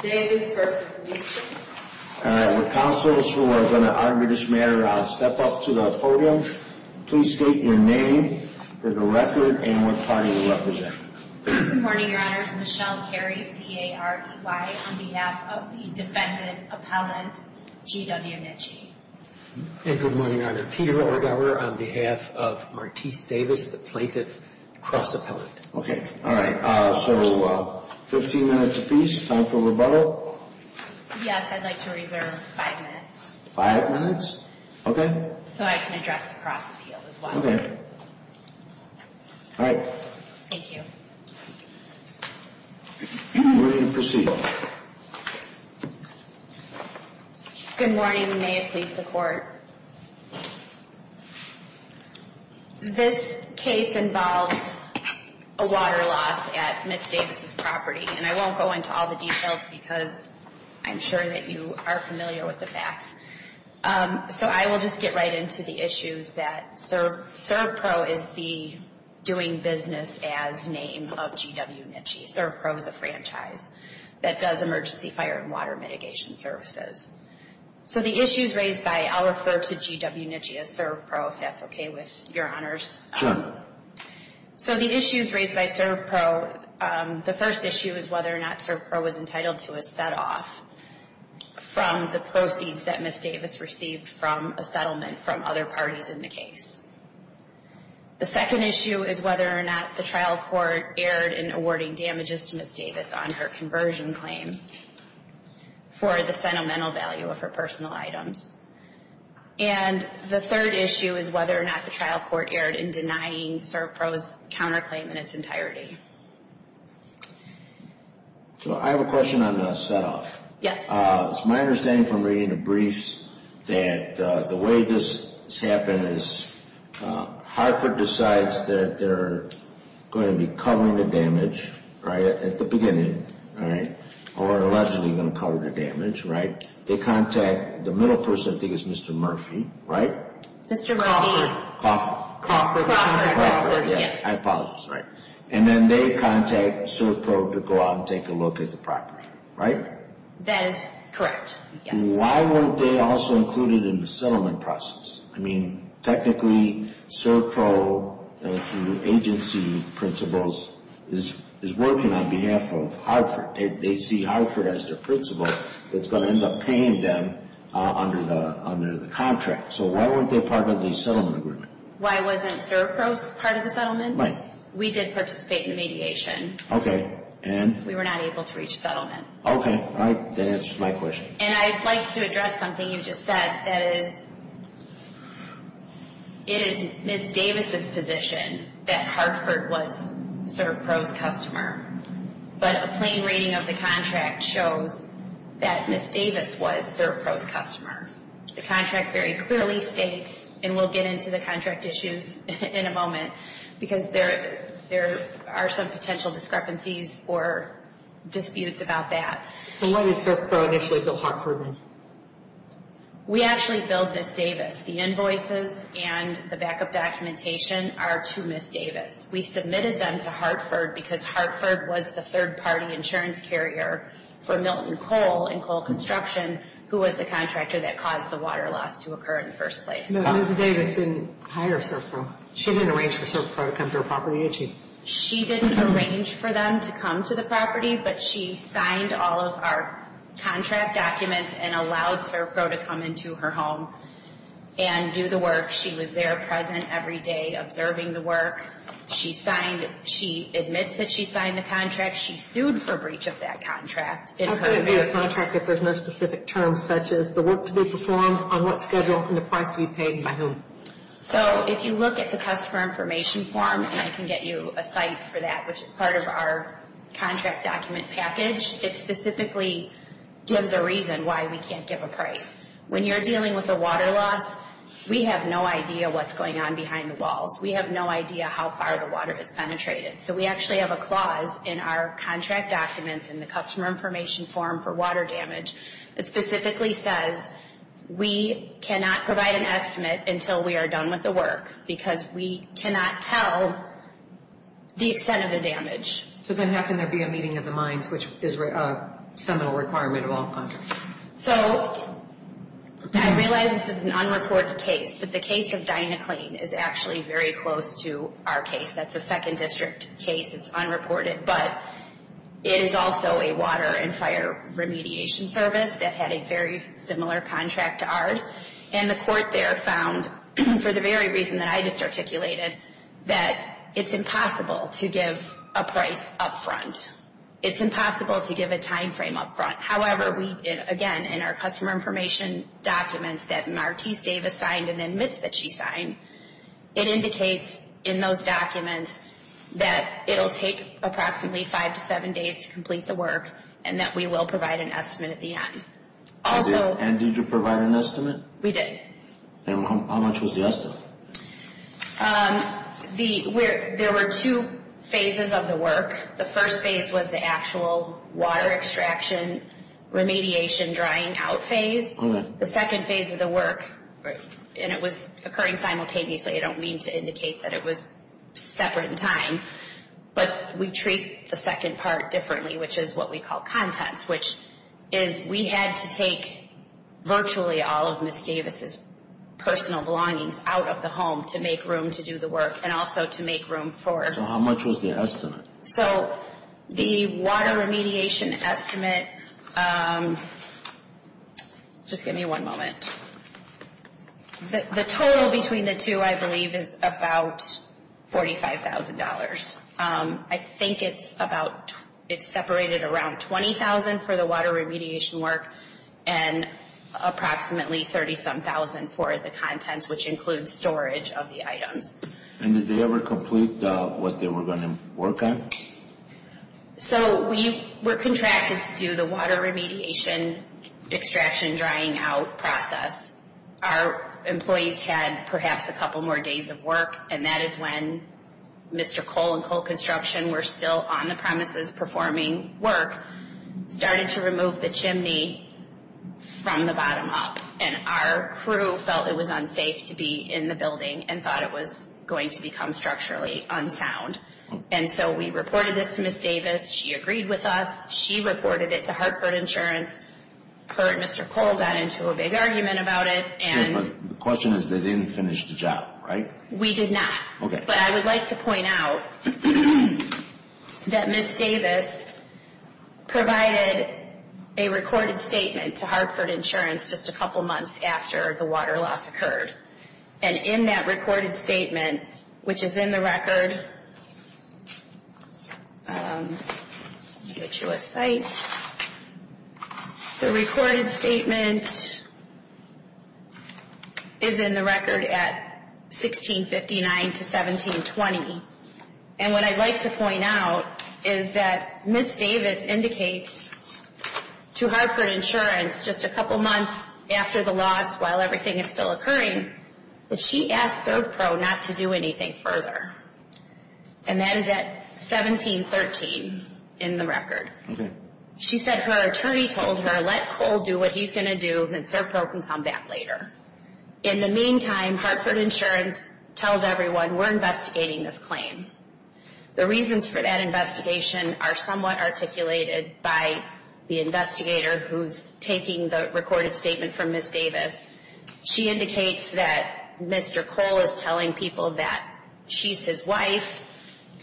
Good morning, your honors. Michelle Carey, C.A.R.E.Y. on behalf of the defendant, Appellant G.W. Nitzsche. And good morning, your honor. Peter Orgaver on behalf of Martice Davis, the plaintiff, cross-appellant. Okay. All right. So, 15 minutes apiece. Time for rebuttal? Yes, I'd like to reserve five minutes. Five minutes? Okay. So I can address the cross-appeal as well. Okay. All right. Thank you. We're ready to proceed. Good morning, and may it please the court. This case involves a water loss at Ms. Davis' property. And I won't go into all the details because I'm sure that you are familiar with the facts. So I will just get right into the issues that CERVPRO is the doing business as name of G.W. Nitzsche. CERVPRO is a franchise that does emergency fire and water mitigation services. So the issues raised by, I'll refer to G.W. Nitzsche as CERVPRO if that's okay with your honors. Sure. So the issues raised by CERVPRO, the first issue is whether or not CERVPRO was entitled to a set-off from the proceeds that Ms. Davis received from a settlement from other parties in the case. The second issue is whether or not the trial court erred in awarding damages to Ms. Davis on her conversion claim for the sentimental value of her personal items. And the third issue is whether or not the trial court erred in denying CERVPRO's counterclaim in its entirety. So I have a question on the set-off. Yes. It's my understanding from reading the briefs that the way this has happened is Hartford decides that they're going to be covering the damage, right, at the beginning, right, or allegedly going to cover the damage, right? They contact the middle person, I think it's Mr. Murphy, right? Mr. Murphy. Crawford. Crawford. Crawford, yes. I apologize, sorry. And then they contact CERVPRO to go out and take a look at the property, right? That is correct, yes. Why weren't they also included in the settlement process? I mean, technically CERVPRO, through agency principles, is working on behalf of Hartford. They see Hartford as the principal that's going to end up paying them under the contract. So why weren't they part of the settlement agreement? Why wasn't CERVPRO part of the settlement? Right. We did participate in the mediation. Okay. And? We were not able to reach settlement. Okay. All right. That answers my question. And I'd like to address something you just said. That is, it is Ms. Davis' position that Hartford was CERVPRO's customer. But a plain reading of the contract shows that Ms. Davis was CERVPRO's customer. The contract very clearly states, and we'll get into the contract issues in a moment, because there are some potential discrepancies or disputes about that. So why did CERVPRO initially bill Hartford then? We actually billed Ms. Davis. The invoices and the backup documentation are to Ms. Davis. We submitted them to Hartford because Hartford was the third-party insurance carrier for Milton Coal and Coal Construction, who was the contractor that caused the water loss to occur in the first place. No, Ms. Davis didn't hire CERVPRO. She didn't arrange for CERVPRO to come to her property, did she? She didn't arrange for them to come to the property, but she signed all of our contract documents and allowed CERVPRO to come into her home and do the work. She was there present every day observing the work. She signed. She admits that she signed the contract. She sued for breach of that contract. How could it be a contract if there's no specific terms, such as the work to be performed, on what schedule, and the price to be paid by whom? So if you look at the customer information form, and I can get you a site for that, which is part of our contract document package, it specifically gives a reason why we can't give a price. When you're dealing with a water loss, we have no idea what's going on behind the walls. We have no idea how far the water has penetrated. So we actually have a clause in our contract documents in the customer information form for water damage that specifically says we cannot provide an estimate until we are done with the work because we cannot tell the extent of the damage. So then how can there be a meeting of the minds, which is a seminal requirement of all contracts? So I realize this is an unreported case, but the case of Dynaclean is actually very close to our case. That's a second district case. It's unreported, but it is also a water and fire remediation service that had a very similar contract to ours. And the court there found, for the very reason that I just articulated, that it's impossible to give a price up front. It's impossible to give a time frame up front. However, again, in our customer information documents that Martise Davis signed and admits that she signed, it indicates in those documents that it will take approximately five to seven days to complete the work and that we will provide an estimate at the end. And did you provide an estimate? We did. And how much was the estimate? There were two phases of the work. The first phase was the actual water extraction remediation drying out phase. The second phase of the work, and it was occurring simultaneously. I don't mean to indicate that it was separate in time. But we treat the second part differently, which is what we call contents, which is we had to take virtually all of Ms. Davis' personal belongings out of the home to make room to do the work and also to make room for her. So how much was the estimate? So the water remediation estimate, just give me one moment. The total between the two, I believe, is about $45,000. I think it's separated around $20,000 for the water remediation work and approximately $30,000 for the contents, which includes storage of the items. And did they ever complete what they were going to work on? So we were contracted to do the water remediation extraction drying out process. Our employees had perhaps a couple more days of work, and that is when Mr. Cole and Cole Construction were still on the premises performing work, started to remove the chimney from the bottom up. And our crew felt it was unsafe to be in the building and thought it was going to become structurally unsound. And so we reported this to Ms. Davis. She agreed with us. She reported it to Hartford Insurance. Her and Mr. Cole got into a big argument about it. Yeah, but the question is they didn't finish the job, right? We did not. Okay. So I would like to point out that Ms. Davis provided a recorded statement to Hartford Insurance just a couple months after the water loss occurred. And in that recorded statement, which is in the record, let me get you a site. The recorded statement is in the record at 1659 to 1720. And what I'd like to point out is that Ms. Davis indicates to Hartford Insurance just a couple months after the loss while everything is still occurring that she asked ServPro not to do anything further. And that is at 1713 in the record. Okay. She said her attorney told her let Cole do what he's going to do, and then ServPro can come back later. In the meantime, Hartford Insurance tells everyone we're investigating this claim. The reasons for that investigation are somewhat articulated by the investigator who's taking the recorded statement from Ms. Davis. She indicates that Mr. Cole is telling people that she's his wife,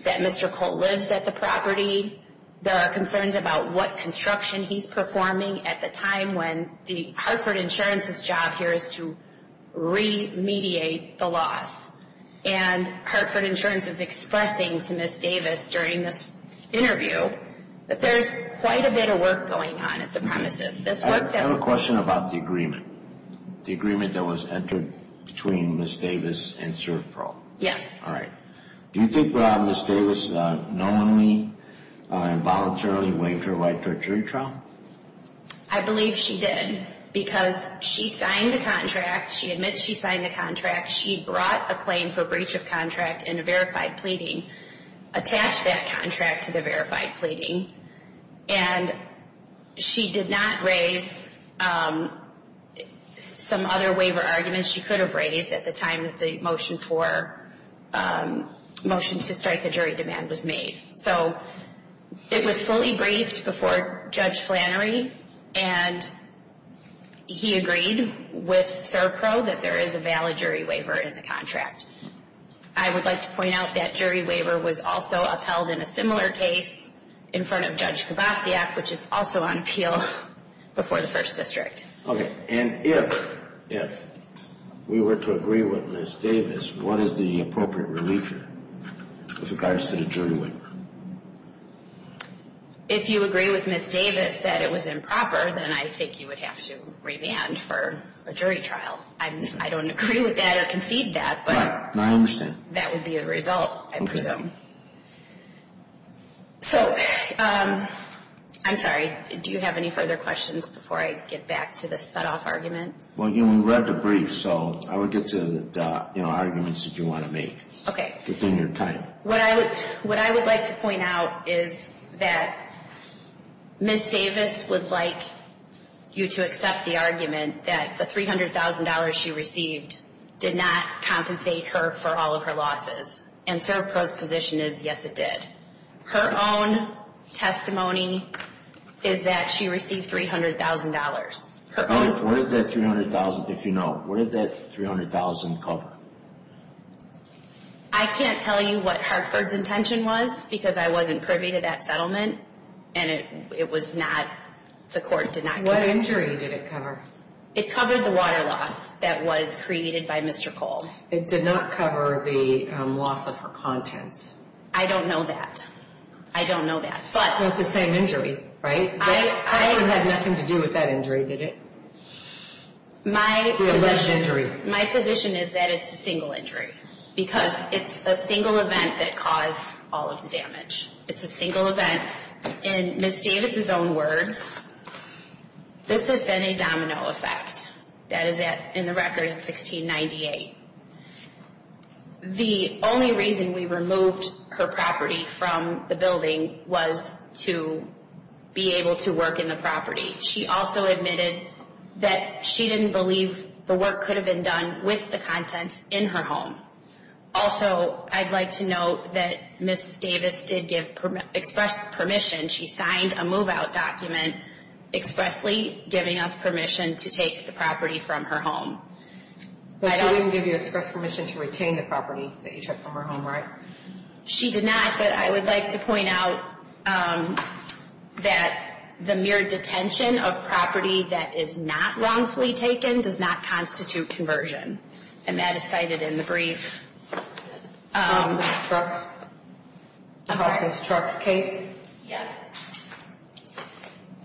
that Mr. Cole lives at the property. There are concerns about what construction he's performing at the time when Hartford Insurance's job here is to remediate the loss. And Hartford Insurance is expressing to Ms. Davis during this interview that there's quite a bit of work going on at the premises. I have a question about the agreement, the agreement that was entered between Ms. Davis and ServPro. Yes. All right. Do you think Ms. Davis normally and voluntarily waived her right to her jury trial? I believe she did because she signed the contract. She admits she signed the contract. She brought a claim for breach of contract in a verified pleading, attached that contract to the verified pleading, and she did not raise some other waiver arguments she could have raised at the time that the motion to strike the jury demand was made. So it was fully briefed before Judge Flannery, and he agreed with ServPro that there is a valid jury waiver in the contract. I would like to point out that jury waiver was also upheld in a similar case in front of Judge Kovasiak, which is also on appeal before the First District. Okay. And if we were to agree with Ms. Davis, what is the appropriate relief here with regards to the jury waiver? If you agree with Ms. Davis that it was improper, then I think you would have to remand for a jury trial. I don't agree with that or concede that. Right. I understand. That would be a result, I presume. Okay. So I'm sorry. Do you have any further questions before I get back to the set-off argument? Well, we read the brief, so I would get to the arguments that you want to make. Okay. Within your time. What I would like to point out is that Ms. Davis would like you to accept the argument that the $300,000 she received did not compensate her for all of her losses, and ServPro's position is, yes, it did. Her own testimony is that she received $300,000. What did that $300,000, if you know, what did that $300,000 cover? I can't tell you what Hartford's intention was because I wasn't privy to that settlement, and it was not the court did not cover. What injury did it cover? It covered the water loss that was created by Mr. Cole. It did not cover the loss of her contents. I don't know that. I don't know that. Not the same injury, right? It had nothing to do with that injury, did it? My position is that it's a single injury because it's a single event that caused all of the damage. It's a single event. In Ms. Davis's own words, this has been a domino effect. That is in the record in 1698. The only reason we removed her property from the building was to be able to work in the property. She also admitted that she didn't believe the work could have been done with the contents in her home. Also, I'd like to note that Ms. Davis did give express permission. She signed a move-out document expressly giving us permission to take the property from her home. But she wouldn't give you express permission to retain the property that you took from her home, right? She did not, but I would like to point out that the mere detention of property that is not wrongfully taken does not constitute conversion. And that is cited in the brief. In Ms. Truck's case? Yes.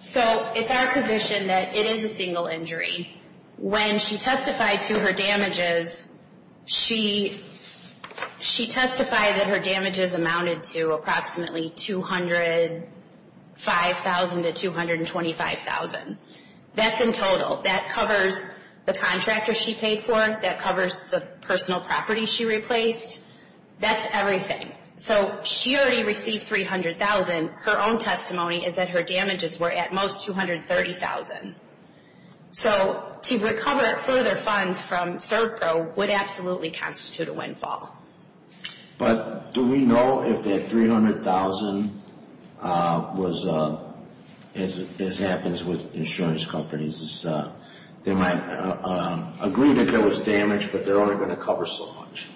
So, it's our position that it is a single injury. When she testified to her damages, she testified that her damages amounted to approximately $205,000 to $225,000. That's in total. That covers the contractor she paid for. That covers the personal property she replaced. That's everything. So, she already received $300,000. Her own testimony is that her damages were at most $230,000. So, to recover further funds from ServPro would absolutely constitute a windfall. But do we know if that $300,000 was, as happens with insurance companies, they might agree that there was damage, but they're only going to cover so much.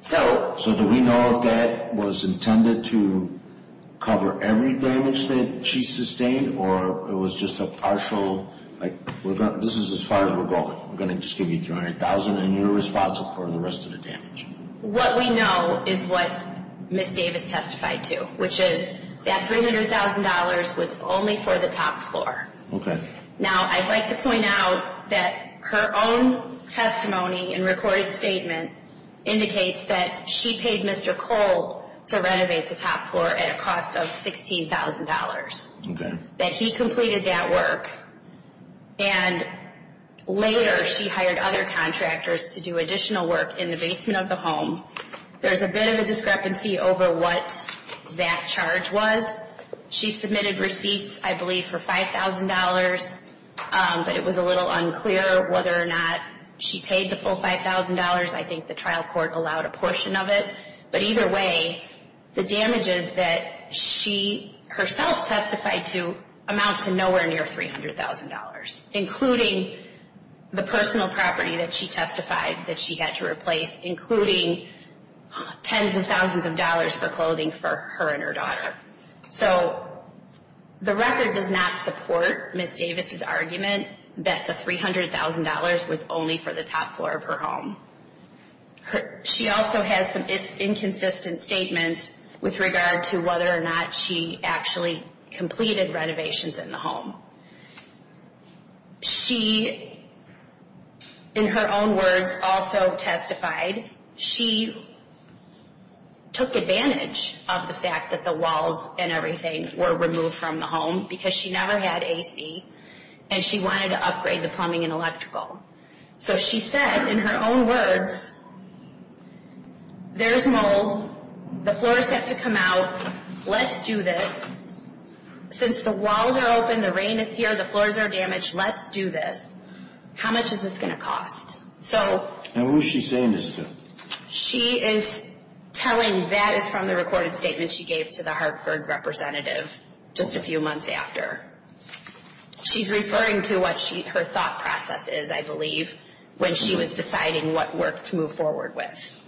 So, do we know if that was intended to cover every damage that she sustained, or it was just a partial, like, this is as far as we're going. We're going to just give you $300,000 and you're responsible for the rest of the damage. What we know is what Ms. Davis testified to, which is that $300,000 was only for the top floor. Okay. Now, I'd like to point out that her own testimony and recorded statement indicates that she paid Mr. Cole to renovate the top floor at a cost of $16,000. Okay. That he completed that work. And later, she hired other contractors to do additional work in the basement of the home. There's a bit of a discrepancy over what that charge was. She submitted receipts, I believe, for $5,000, but it was a little unclear whether or not she paid the full $5,000. I think the trial court allowed a portion of it. But either way, the damages that she herself testified to amount to nowhere near $300,000, including the personal property that she testified that she had to replace, including tens of thousands of dollars for clothing for her and her daughter. So the record does not support Ms. Davis' argument that the $300,000 was only for the top floor of her home. She also has some inconsistent statements with regard to whether or not she actually completed renovations in the home. She, in her own words, also testified she took advantage of the fact that the walls and everything were removed from the home because she never had A.C. and she wanted to upgrade the plumbing and electrical. So she said, in her own words, there's mold, the floors have to come out, let's do this. Since the walls are open, the rain is here, the floors are damaged, let's do this. How much is this going to cost? And who is she saying this to? She is telling that is from the recorded statement she gave to the Hartford representative just a few months after. She's referring to what her thought process is, I believe, when she was deciding what work to move forward with.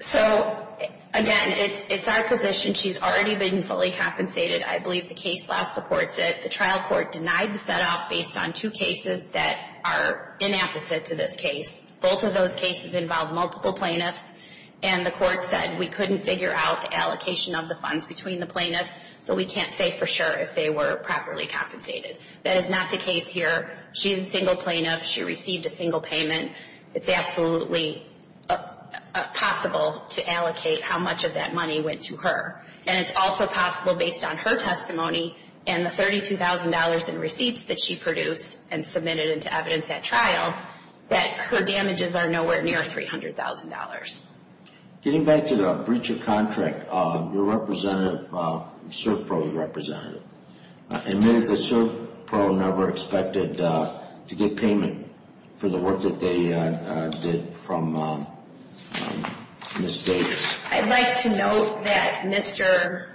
So, again, it's our position she's already been fully compensated. I believe the case law supports it. The trial court denied the set-off based on two cases that are inapposite to this case. Both of those cases involve multiple plaintiffs. And the court said we couldn't figure out the allocation of the funds between the plaintiffs, so we can't say for sure if they were properly compensated. That is not the case here. She's a single plaintiff. She received a single payment. It's absolutely possible to allocate how much of that money went to her. And it's also possible, based on her testimony and the $32,000 in receipts that she produced and submitted into evidence at trial, that her damages are nowhere near $300,000. Getting back to the breach of contract, your representative, CERF pro representative, admitted that CERF pro never expected to get payment for the work that they did from Ms. Davis. I'd like to note that Mr.,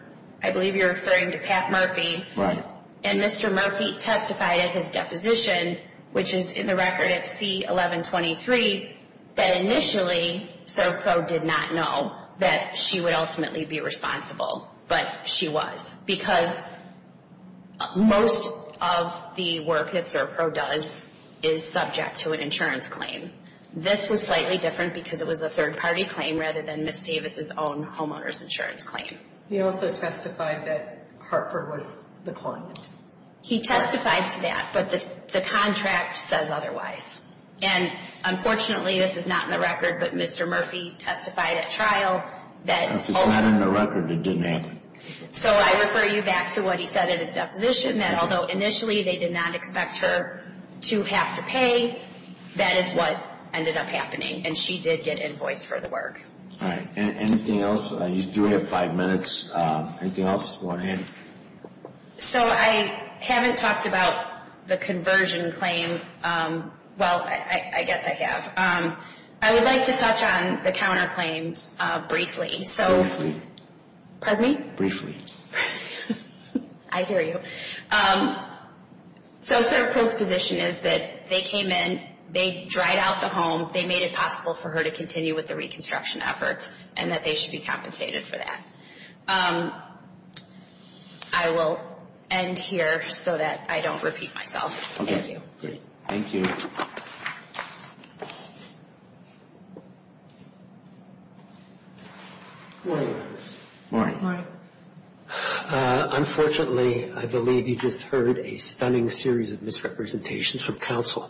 I believe you're referring to Pat Murphy. Right. And Mr. Murphy testified at his deposition, which is in the record at C-1123, that initially CERF pro did not know that she would ultimately be responsible, but she was. Because most of the work that CERF pro does is subject to an insurance claim. This was slightly different because it was a third-party claim rather than Ms. Davis' own homeowner's insurance claim. He also testified that Hartford was the client. He testified to that, but the contract says otherwise. And unfortunately, this is not in the record, but Mr. Murphy testified at trial that If it's not in the record, it didn't happen. So I refer you back to what he said at his deposition, that although initially they did not expect her to have to pay, that is what ended up happening, and she did get invoice for the work. All right. Anything else? You do have five minutes. Anything else you want to add? So I haven't talked about the conversion claim. Well, I guess I have. I would like to touch on the counterclaims briefly. Briefly? Pardon me? Briefly. I hear you. So CERF Pro's position is that they came in, they dried out the home, they made it possible for her to continue with the reconstruction efforts, and that they should be compensated for that. I will end here so that I don't repeat myself. Okay. Thank you. Morning. Morning. Morning. Unfortunately, I believe you just heard a stunning series of misrepresentations from counsel.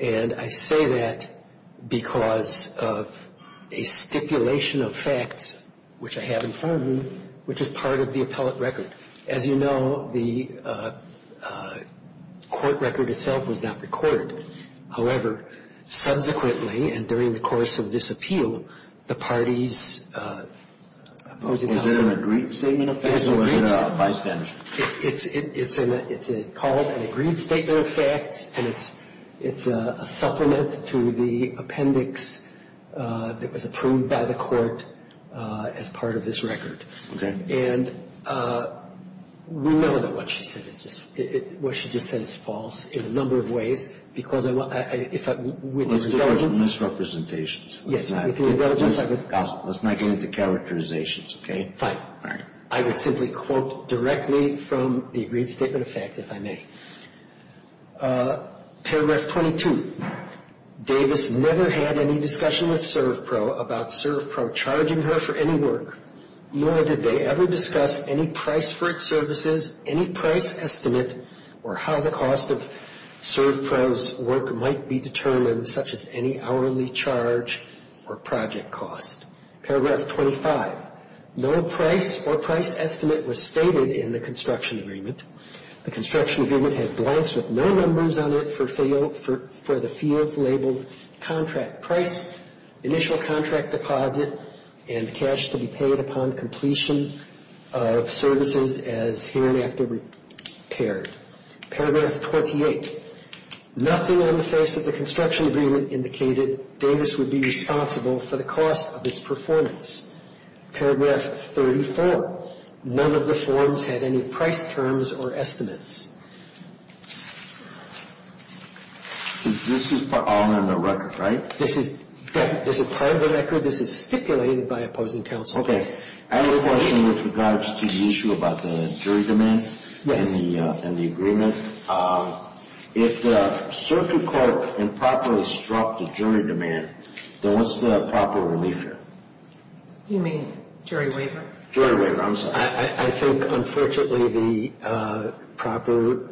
And I say that because of a stipulation of facts, which I have in front of me, which is part of the appellate record. As you know, the court record itself was issued by the Supreme Court, and it was not recorded. However, subsequently, and during the course of this appeal, the parties opposed it. Was it an agreed statement of facts or was it a bystander statement? It's a called and agreed statement of facts, and it's a supplement to the appendix that was approved by the court as part of this record. Okay. And we know that what she said is just, what she just said is false. In a number of ways. Because I want, if I, with your indulgence. Misrepresentations. Yes. With your indulgence. Let's not get into characterizations, okay? Fine. All right. I would simply quote directly from the agreed statement of facts, if I may. Paragraph 22, Davis never had any discussion with ServPro about ServPro charging her for any work, nor did they ever discuss any price for its services, any price estimate, or how the cost of ServPro's work might be determined, such as any hourly charge or project cost. Paragraph 25, no price or price estimate was stated in the construction agreement. The construction agreement had blanks with no numbers on it for the fields labeled contract price, initial contract deposit, and cash to be paid upon completion of services as here and after repaired. Paragraph 28, nothing on the face of the construction agreement indicated Davis would be responsible for the cost of its performance. Paragraph 34, none of the forms had any price terms or estimates. This is all in the record, right? This is part of the record. This is stipulated by opposing counsel. Okay. I have a question with regards to the issue about the jury demand and the agreement. If ServPro caught improperly struck the jury demand, then what's the proper relief here? You mean jury waiver? Jury waiver, I'm sorry. I think, unfortunately, the proper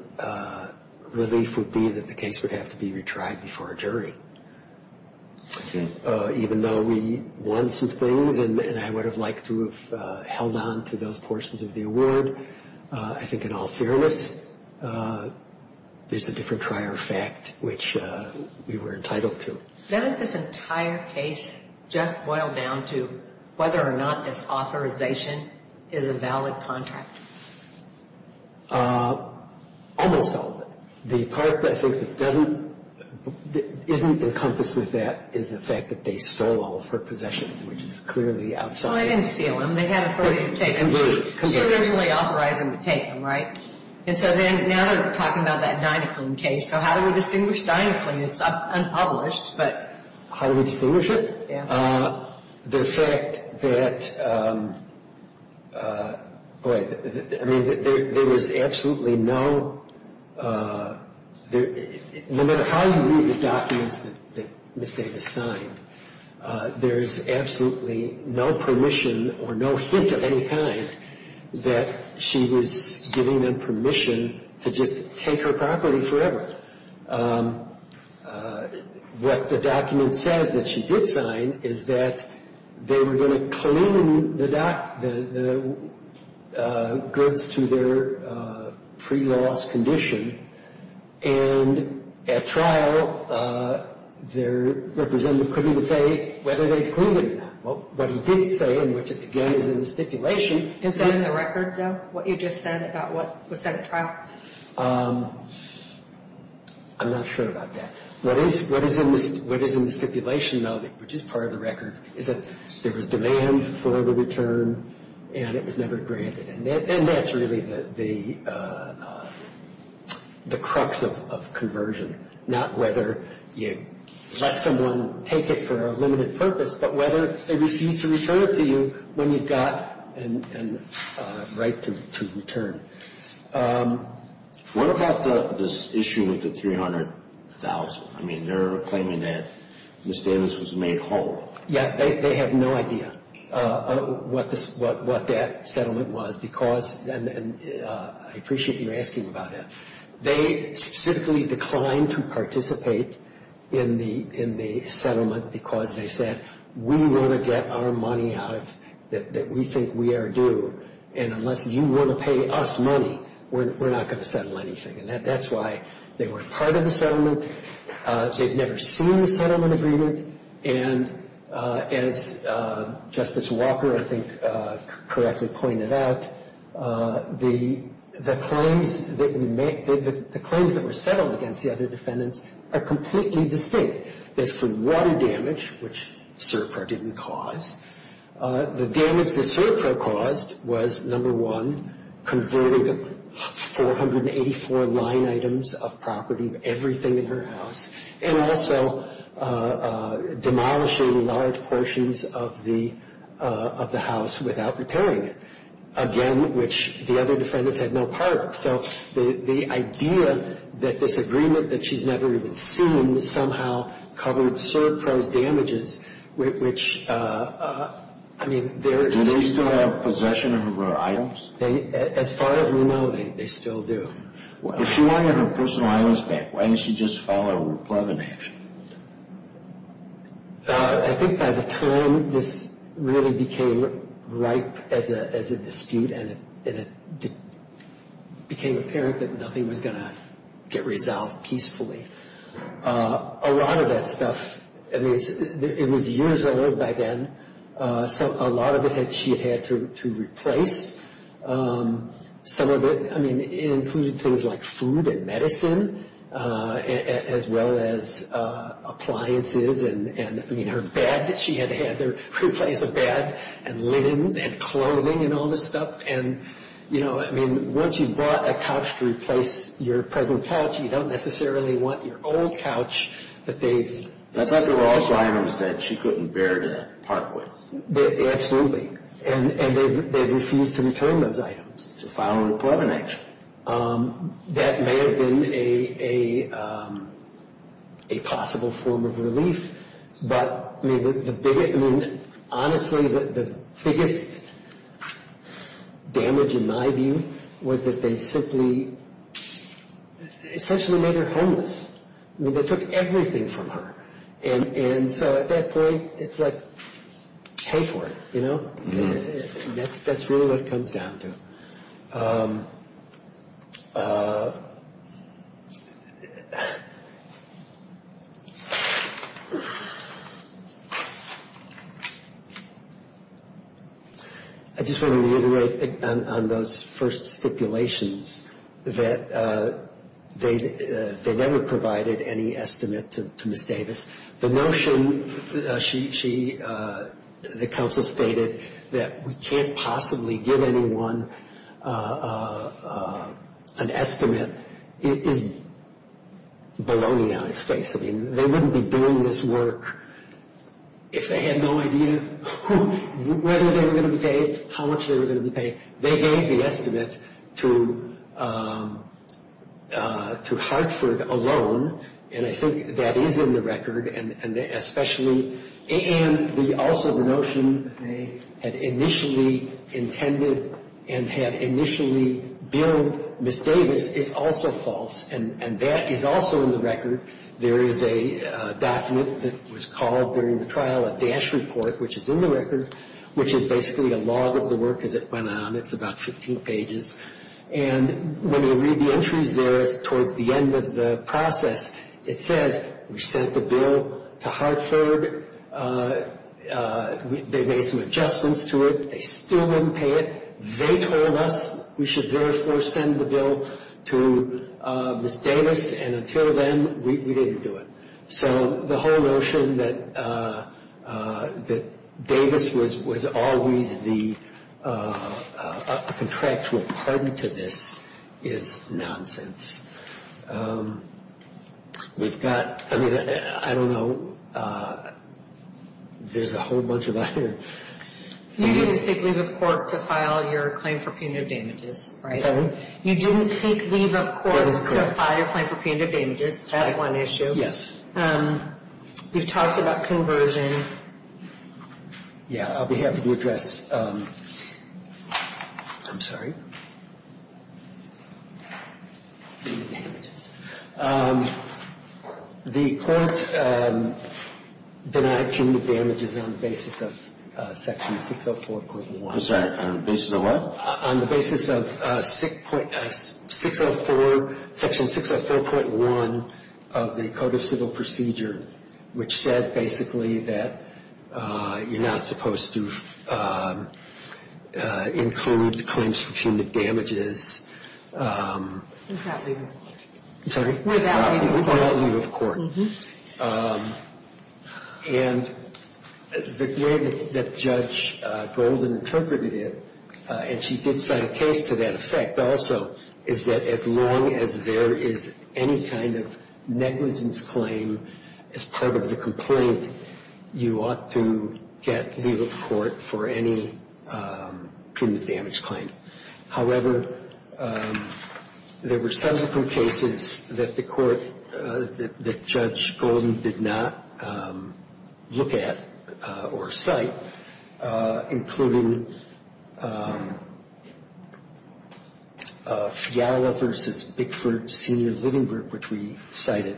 relief would be that the case would have to be tried before a jury. Even though we won some things and I would have liked to have held on to those portions of the award, I think in all fairness, there's a different trier of fact which we were entitled to. Doesn't this entire case just boil down to whether or not this authorization is a valid contract? Almost all of it. The part, I think, that doesn't, isn't encompassed with that is the fact that they stole all of her possessions, which is clearly outside. Well, they didn't steal them. They had authority to take them. She was originally authorizing to take them, right? And so now they're talking about that Dynaclean case. So how do we distinguish Dynaclean? It's unpublished, but. How do we distinguish it? Yeah. The fact that, boy, I mean, there was absolutely no, no matter how you read the documents that Ms. Davis signed, there's absolutely no permission or no hint of any kind that she was giving them permission to just take her property forever. What the document says that she did sign is that they were going to clean the goods to their pre-loss condition. And at trial, their representative couldn't even say whether they'd cleaned it or not. What he did say, and which, again, is in the stipulation. Is that in the record, though, what you just said about what was said at trial? I'm not sure about that. What is in the stipulation, though, which is part of the record, is that there was demand for the return, and it was never granted. And that's really the crux of conversion, not whether you let someone take it for a limited purpose, but whether they refuse to return it to you when you've got a right to return. What about this issue with the $300,000? I mean, they're claiming that Ms. Davis was made whole. Yeah, they have no idea what that settlement was because, and I appreciate you asking about that. They specifically declined to participate in the settlement because they said, we want to get our money out that we think we are due, and unless you want to pay us money, we're not going to settle anything. And that's why they weren't part of the settlement. They've never seen the settlement agreement. And as Justice Walker, I think, correctly pointed out, the claims that were settled against the other defendants are completely distinct. There's been one damage, which SERPRA didn't cause. The damage that SERPRA caused was, number one, converting 484 line items of property, everything in her house, and also demolishing large portions of the house without repairing it, again, which the other defendants had no part of. So the idea that this agreement that she's never even seen somehow covered SERPRA's damages, which, I mean, they're – Do they still have possession of her items? As far as we know, they still do. If she wanted her personal items back, why didn't she just file a replevant action? I think by the time this really became ripe as a dispute, and it became apparent that nothing was going to get resolved peacefully, a lot of that stuff – I mean, it was years old by then, so a lot of it she had had to replace. Some of it – I mean, it included things like food and medicine, as well as appliances, and, I mean, her bed that she had had to replace a bed, and linens, and clothing, and all this stuff. And, you know, I mean, once you've bought a couch to replace your present couch, you don't necessarily want your old couch that they've – That's not the last items that she couldn't bear to part with. Absolutely. And they've refused to return those items to file a replevant action. That may have been a possible form of relief, but, I mean, the biggest – I mean, honestly, the biggest damage, in my view, was that they simply – essentially made her homeless. I mean, they took everything from her. And so at that point, it's like, pay for it, you know? That's really what it comes down to. I just want to reiterate on those first stipulations, that they never provided any estimate to Ms. Davis. The notion she – the counsel stated that we can't possibly give anyone an estimate is baloney on its face. I mean, they wouldn't be doing this work if they had no idea whether they were going to be paid, how much they were going to be paid. They gave the estimate to Hartford alone, and I think that is in the record, and especially – and also the notion that they had initially intended and had initially billed Ms. Davis is also false, and that is also in the record. There is a document that was called during the trial, a DASH report, which is in the record, which is basically a log of the work as it went on. It's about 15 pages. And when you read the entries there towards the end of the process, it says, we sent the bill to Hartford, they made some adjustments to it, they still didn't pay it. They told us we should therefore send the bill to Ms. Davis, and until then, we didn't do it. So the whole notion that Davis was always a contractual pardon to this is nonsense. We've got – I mean, I don't know. There's a whole bunch of other – You didn't seek leave of court to file your claim for punitive damages, right? Sorry? You didn't seek leave of court to file your claim for punitive damages. That is correct. Yes. We've talked about conversion. Yeah. I'll be happy to address – I'm sorry. Punitive damages. The Court denied punitive damages on the basis of Section 604.1. On the basis of what? On the basis of 604 – Section 604.1 of the Code of Civil Procedure, which says basically that you're not supposed to include claims for punitive damages. Without leave of court. I'm sorry? Without leave of court. Without leave of court. And the way that Judge Golden interpreted it, and she did cite a case to that effect also, is that as long as there is any kind of negligence claim as part of the complaint, you ought to get leave of court for any punitive damage claim. However, there were subsequent cases that the Court – that Judge Golden did not look at or cite, including Fiala v. Bickford Sr. Livingbrook, which we cited.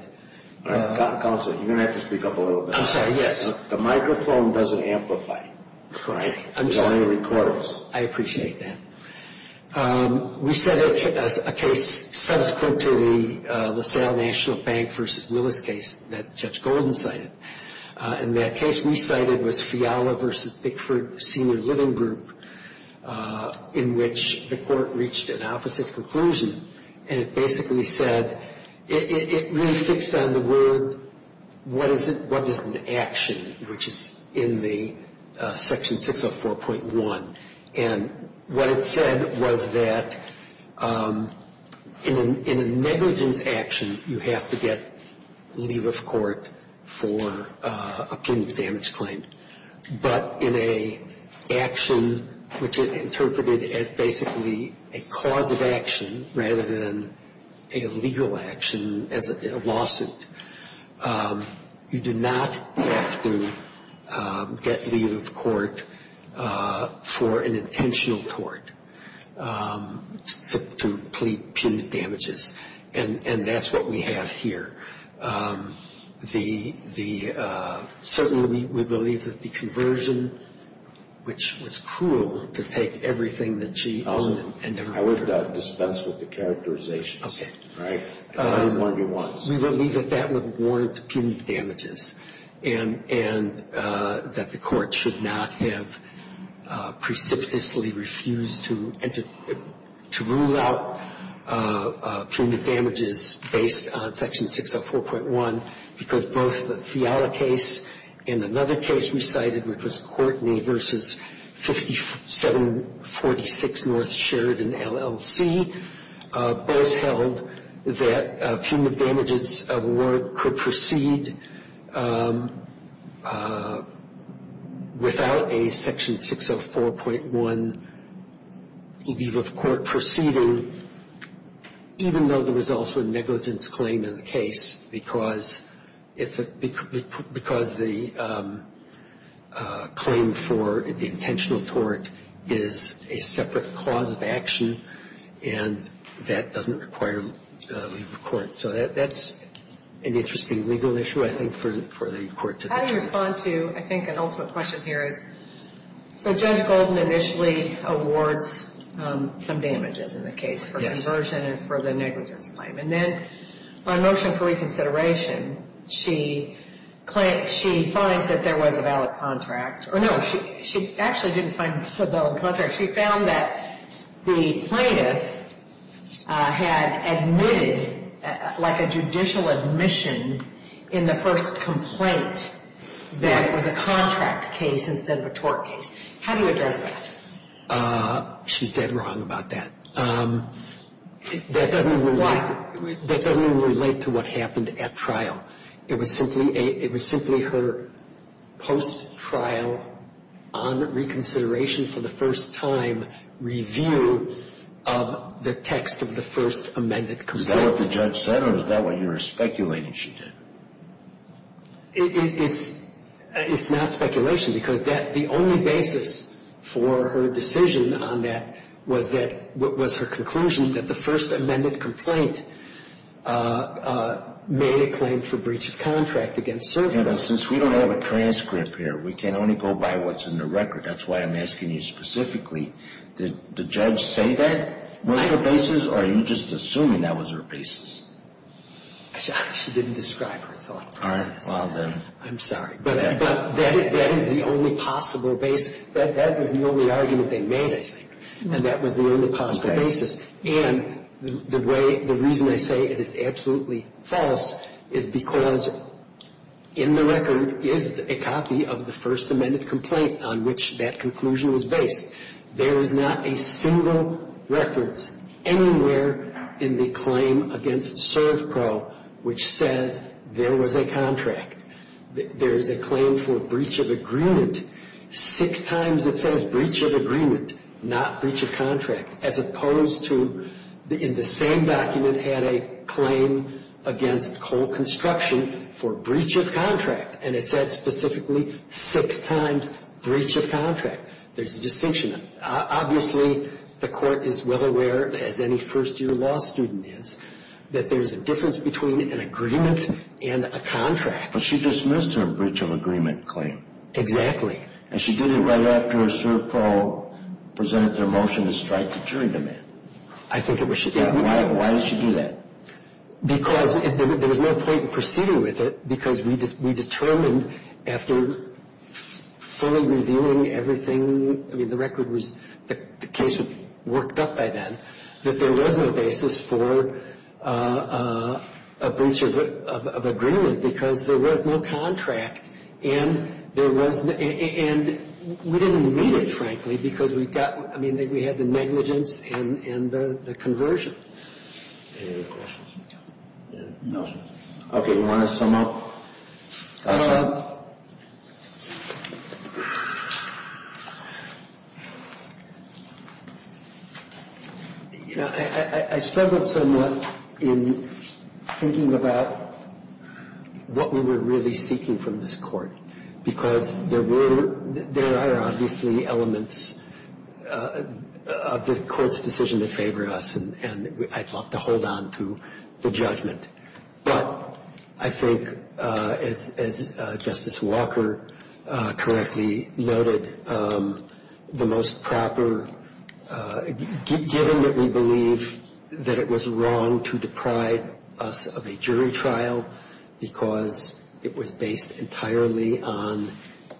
Counsel, you're going to have to speak up a little bit. I'm sorry, yes. The microphone doesn't amplify. Correct. I'm sorry. It only records. I appreciate that. We cited a case subsequent to the LaSalle National Bank v. Willis case that Judge Golden cited. And that case we cited was Fiala v. Bickford Sr. Livingbrook, in which the Court reached an opposite conclusion. And it basically said – it really fixed on the word, what is an action, which is in the Section 604.1. And what it said was that in a negligence action, you have to get leave of court for a punitive damage claim. But in an action which is interpreted as basically a cause of action rather than a legal action, as a lawsuit, you do not have to get leave of court for an intentional tort to plead punitive damages. And that's what we have here. The – certainly, we believe that the conversion, which was cruel to take everything that she used and never heard of. I would dispense with the characterizations. All right? I only warned you once. We believe that that would warrant punitive damages and that the Court should not have precipitously refused to enter – to rule out punitive damages based on Section 604.1. Because both the Fiala case and another case we cited, which was Courtney v. 5746 North Sheridan, LLC, both held that punitive damages award could proceed without a Section 604.1 leave of court proceeding, even though there was also a negligence claim in the case, because it's a – because the claim for the intentional tort is a separate cause of action and that doesn't require leave of court. So that's an interesting legal issue, I think, for the Court to determine. How do you respond to, I think, an ultimate question here is, so Judge Golden initially awards some damages in the case. Yes. For conversion and for the negligence claim. And then on motion for reconsideration, she claims – she finds that there was a valid contract. Or no, she actually didn't find a valid contract. She found that the plaintiff had admitted, like a judicial admission in the first complaint, that it was a contract case instead of a tort case. How do you address that? She's dead wrong about that. That doesn't even – Why? That doesn't even relate to what happened at trial. It was simply a – it was simply her post-trial, on reconsideration for the first time, review of the text of the first amended complaint. Is that what the judge said or is that what you're speculating she did? It's not speculation because that – the only basis for her decision on that was that – And since we don't have a transcript here, we can only go by what's in the record. That's why I'm asking you specifically, did the judge say that was her basis or are you just assuming that was her basis? She didn't describe her thought process. All right. Well, then. I'm sorry. But that is the only possible basis. That was the only argument they made, I think. And that was the only possible basis. Okay. And the way – the reason I say it is absolutely false is because in the record is a copy of the first amended complaint on which that conclusion was based. There is not a single reference anywhere in the claim against ServPro which says there was a contract. There is a claim for breach of agreement. Six times it says breach of agreement, not breach of contract, as opposed to in the same document had a claim against coal construction for breach of contract. And it said specifically six times breach of contract. There's a distinction. Obviously, the court is well aware, as any first-year law student is, that there's a difference between an agreement and a contract. But she dismissed her breach of agreement claim. Exactly. And she did it right after ServPro presented their motion to strike the jury demand. I think it was – Yeah. Why did she do that? Because there was no point in proceeding with it because we determined after fully reviewing everything – I mean, the record was – the case was worked up by then that there was no basis for a breach of agreement because there was no contract. And there was – and we didn't meet it, frankly, because we've got – I mean, we had the negligence and the conversion. Any other questions? No. Okay. You want to sum up? I struggled somewhat in thinking about what we were really seeking from this Court because there were – there are obviously elements of the Court's decision that favor us, and I'd love to hold on to the judgment. But I think, as Justice Walker correctly noted, the most proper – given that we believe that it was wrong to deprive us of a jury trial because it was based entirely on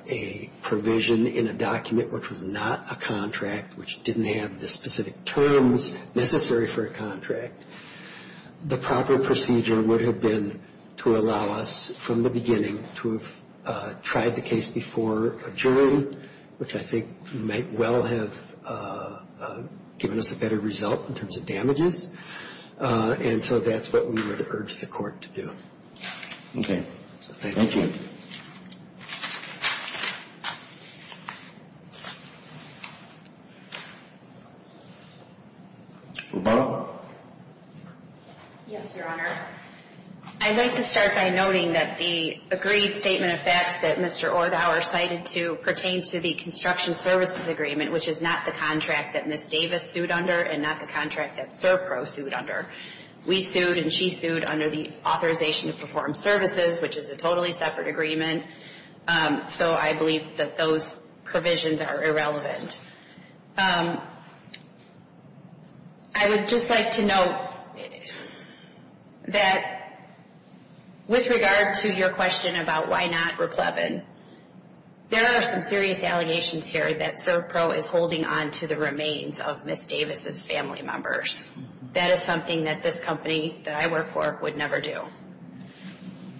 a provision in a document which was not a contract, which didn't have the specific terms necessary for a contract, the proper procedure would have been to allow us from the beginning to have tried the case before a jury, which I think might well have given us a better result in terms of damages. And so that's what we would urge the Court to do. So thank you. Rebecca? Yes, Your Honor. I'd like to start by noting that the agreed statement of facts that Mr. Orthower cited pertains to the construction services agreement, which is not the contract that Ms. Davis sued under and not the contract that ServPro sued under. We sued and she sued under the authorization to perform services, which is a totally separate agreement. So I believe that those provisions are irrelevant. I would just like to note that with regard to your question about why not Raplevin, there are some serious allegations here that ServPro is holding on to the remains of Ms. Davis's family members. That is something that this company that I work for would never do.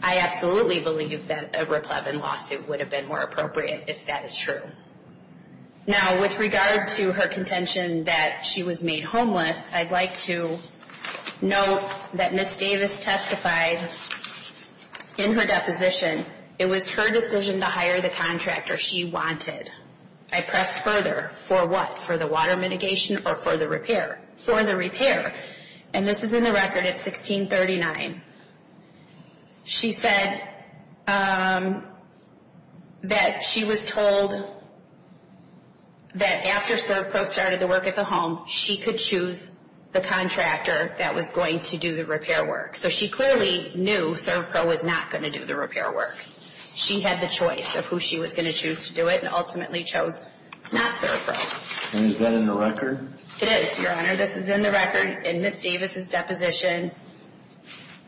I absolutely believe that a Raplevin lawsuit would have been more appropriate if that is true. Now, with regard to her contention that she was made homeless, I'd like to note that Ms. Davis testified in her deposition, it was her decision to hire the contractor she wanted. I press further for what? For the water mitigation or for the repair? For the repair. And this is in the record at 1639. She said that she was told that after ServPro started the work at the home, she could choose the contractor that was going to do the repair work. So she clearly knew ServPro was not going to do the repair work. She had the choice of who she was going to choose to do it and ultimately chose not ServPro. And is that in the record? It is, Your Honor. This is in the record in Ms. Davis's deposition.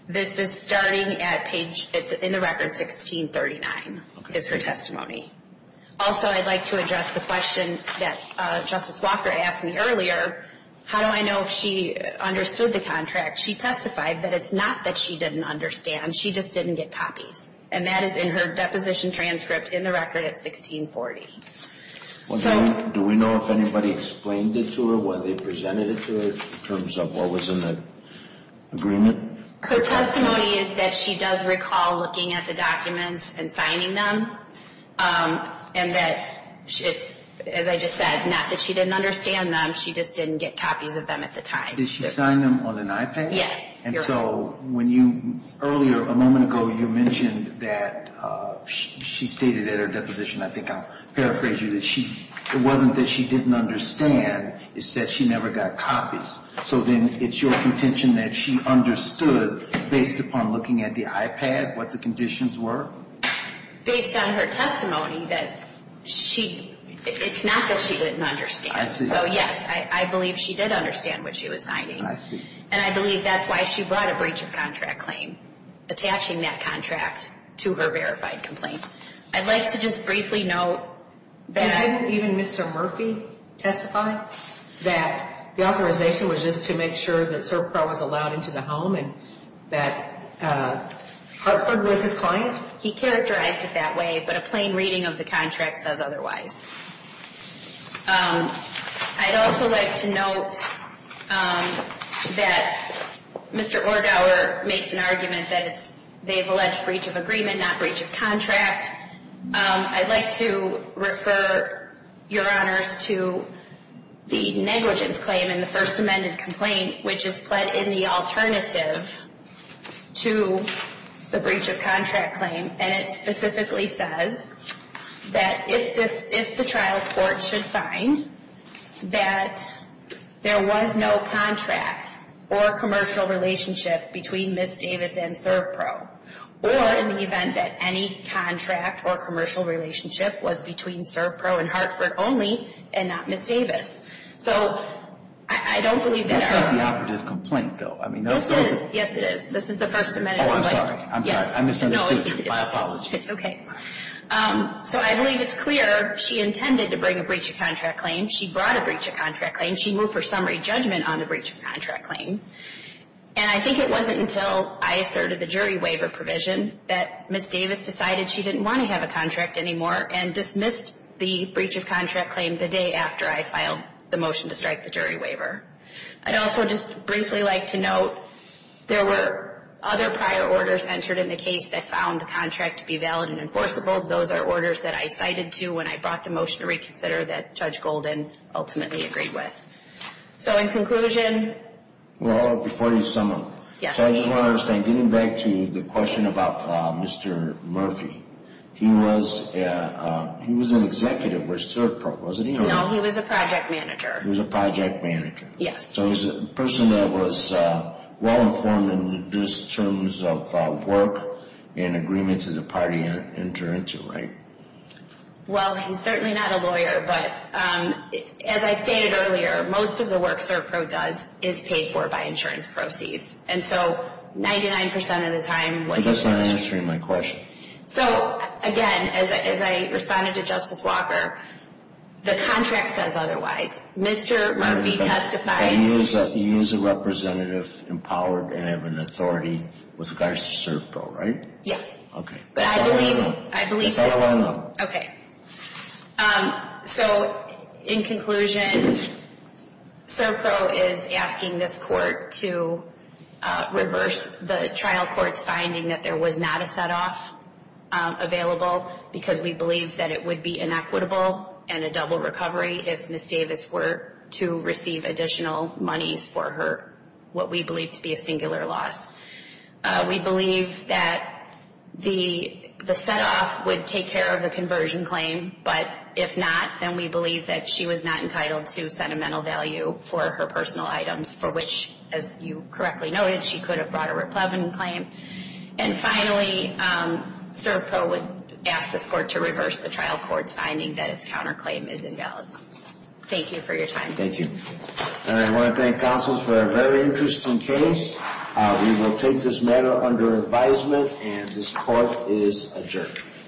This is starting at page, in the record, 1639 is her testimony. Also, I'd like to address the question that Justice Walker asked me earlier. How do I know if she understood the contract? She testified that it's not that she didn't understand. She just didn't get copies. And that is in her deposition transcript in the record at 1640. Do we know if anybody explained it to her? Whether they presented it to her in terms of what was in the agreement? Her testimony is that she does recall looking at the documents and signing them. And that it's, as I just said, not that she didn't understand them. She just didn't get copies of them at the time. Did she sign them on an iPad? Yes. And so when you, earlier, a moment ago, you mentioned that she stated in her deposition, I think I'll paraphrase you, that she, it wasn't that she didn't understand, it's that she never got copies. So then it's your contention that she understood, based upon looking at the iPad, what the conditions were? Based on her testimony that she, it's not that she didn't understand. I see. So, yes, I believe she did understand what she was signing. I see. And I believe that's why she brought a breach of contract claim, attaching that contract to her verified complaint. I'd like to just briefly note that I... Didn't even Mr. Murphy testify that the authorization was just to make sure that CertPro was allowed into the home and that Hartford was his client? He characterized it that way, but a plain reading of the contract says otherwise. I'd also like to note that Mr. Orgauer makes an argument that it's, they've alleged breach of agreement, not breach of contract. I'd like to refer your honors to the negligence claim in the first amended complaint, which is put in the alternative to the breach of contract claim, and it specifically says that if the trial court should find that there was no contract or commercial relationship between Ms. Davis and CertPro, or in the event that any contract or commercial relationship was between CertPro and Hartford only and not Ms. Davis. So I don't believe that our... That's not the operative complaint, though. I mean, those are... Yes, it is. This is the first amended complaint. Oh, I'm sorry. I'm sorry. I misunderstood you. My apologies. It's okay. So I believe it's clear she intended to bring a breach of contract claim. She brought a breach of contract claim. She moved her summary judgment on the breach of contract claim. And I think it wasn't until I asserted the jury waiver provision that Ms. Davis decided she didn't want to have a contract anymore and dismissed the breach of contract claim the day after I filed the motion to strike the jury waiver. I'd also just briefly like to note there were other prior orders entered in the case that found the contract to be valid and enforceable. Those are orders that I cited to when I brought the motion to reconsider that Judge Golden ultimately agreed with. So in conclusion... Well, before you sum up... Yes. So I just want to understand, getting back to the question about Mr. Murphy, he was an executive with SurfPro, wasn't he? No, he was a project manager. He was a project manager. Yes. So he's a person that was well-informed in terms of work and agreements that the party entered into, right? Well, he's certainly not a lawyer, but as I stated earlier, most of the work SurfPro does is paid for by insurance proceeds. And so 99% of the time... But that's not answering my question. So, again, as I responded to Justice Walker, the contract says otherwise. Mr. Murphy testified... You use a representative empowered and have an authority with regards to SurfPro, right? Yes. Okay. I believe... It's all one. Okay. So in conclusion, SurfPro is asking this court to reverse the trial court's finding that there was not a set-off available because we believe that it would be inequitable and a double recovery if Ms. Davis were to receive additional monies for her, what we believe to be a singular loss. We believe that the set-off would take care of the conversion claim, but if not, then we believe that she was not entitled to sentimental value for her personal items for which, as you correctly noted, she could have brought a replevin claim. And finally, SurfPro would ask this court to reverse the trial court's finding that its counterclaim is invalid. Thank you for your time. Thank you. I want to thank counsels for a very interesting case. We will take this matter under advisement, and this court is adjourned.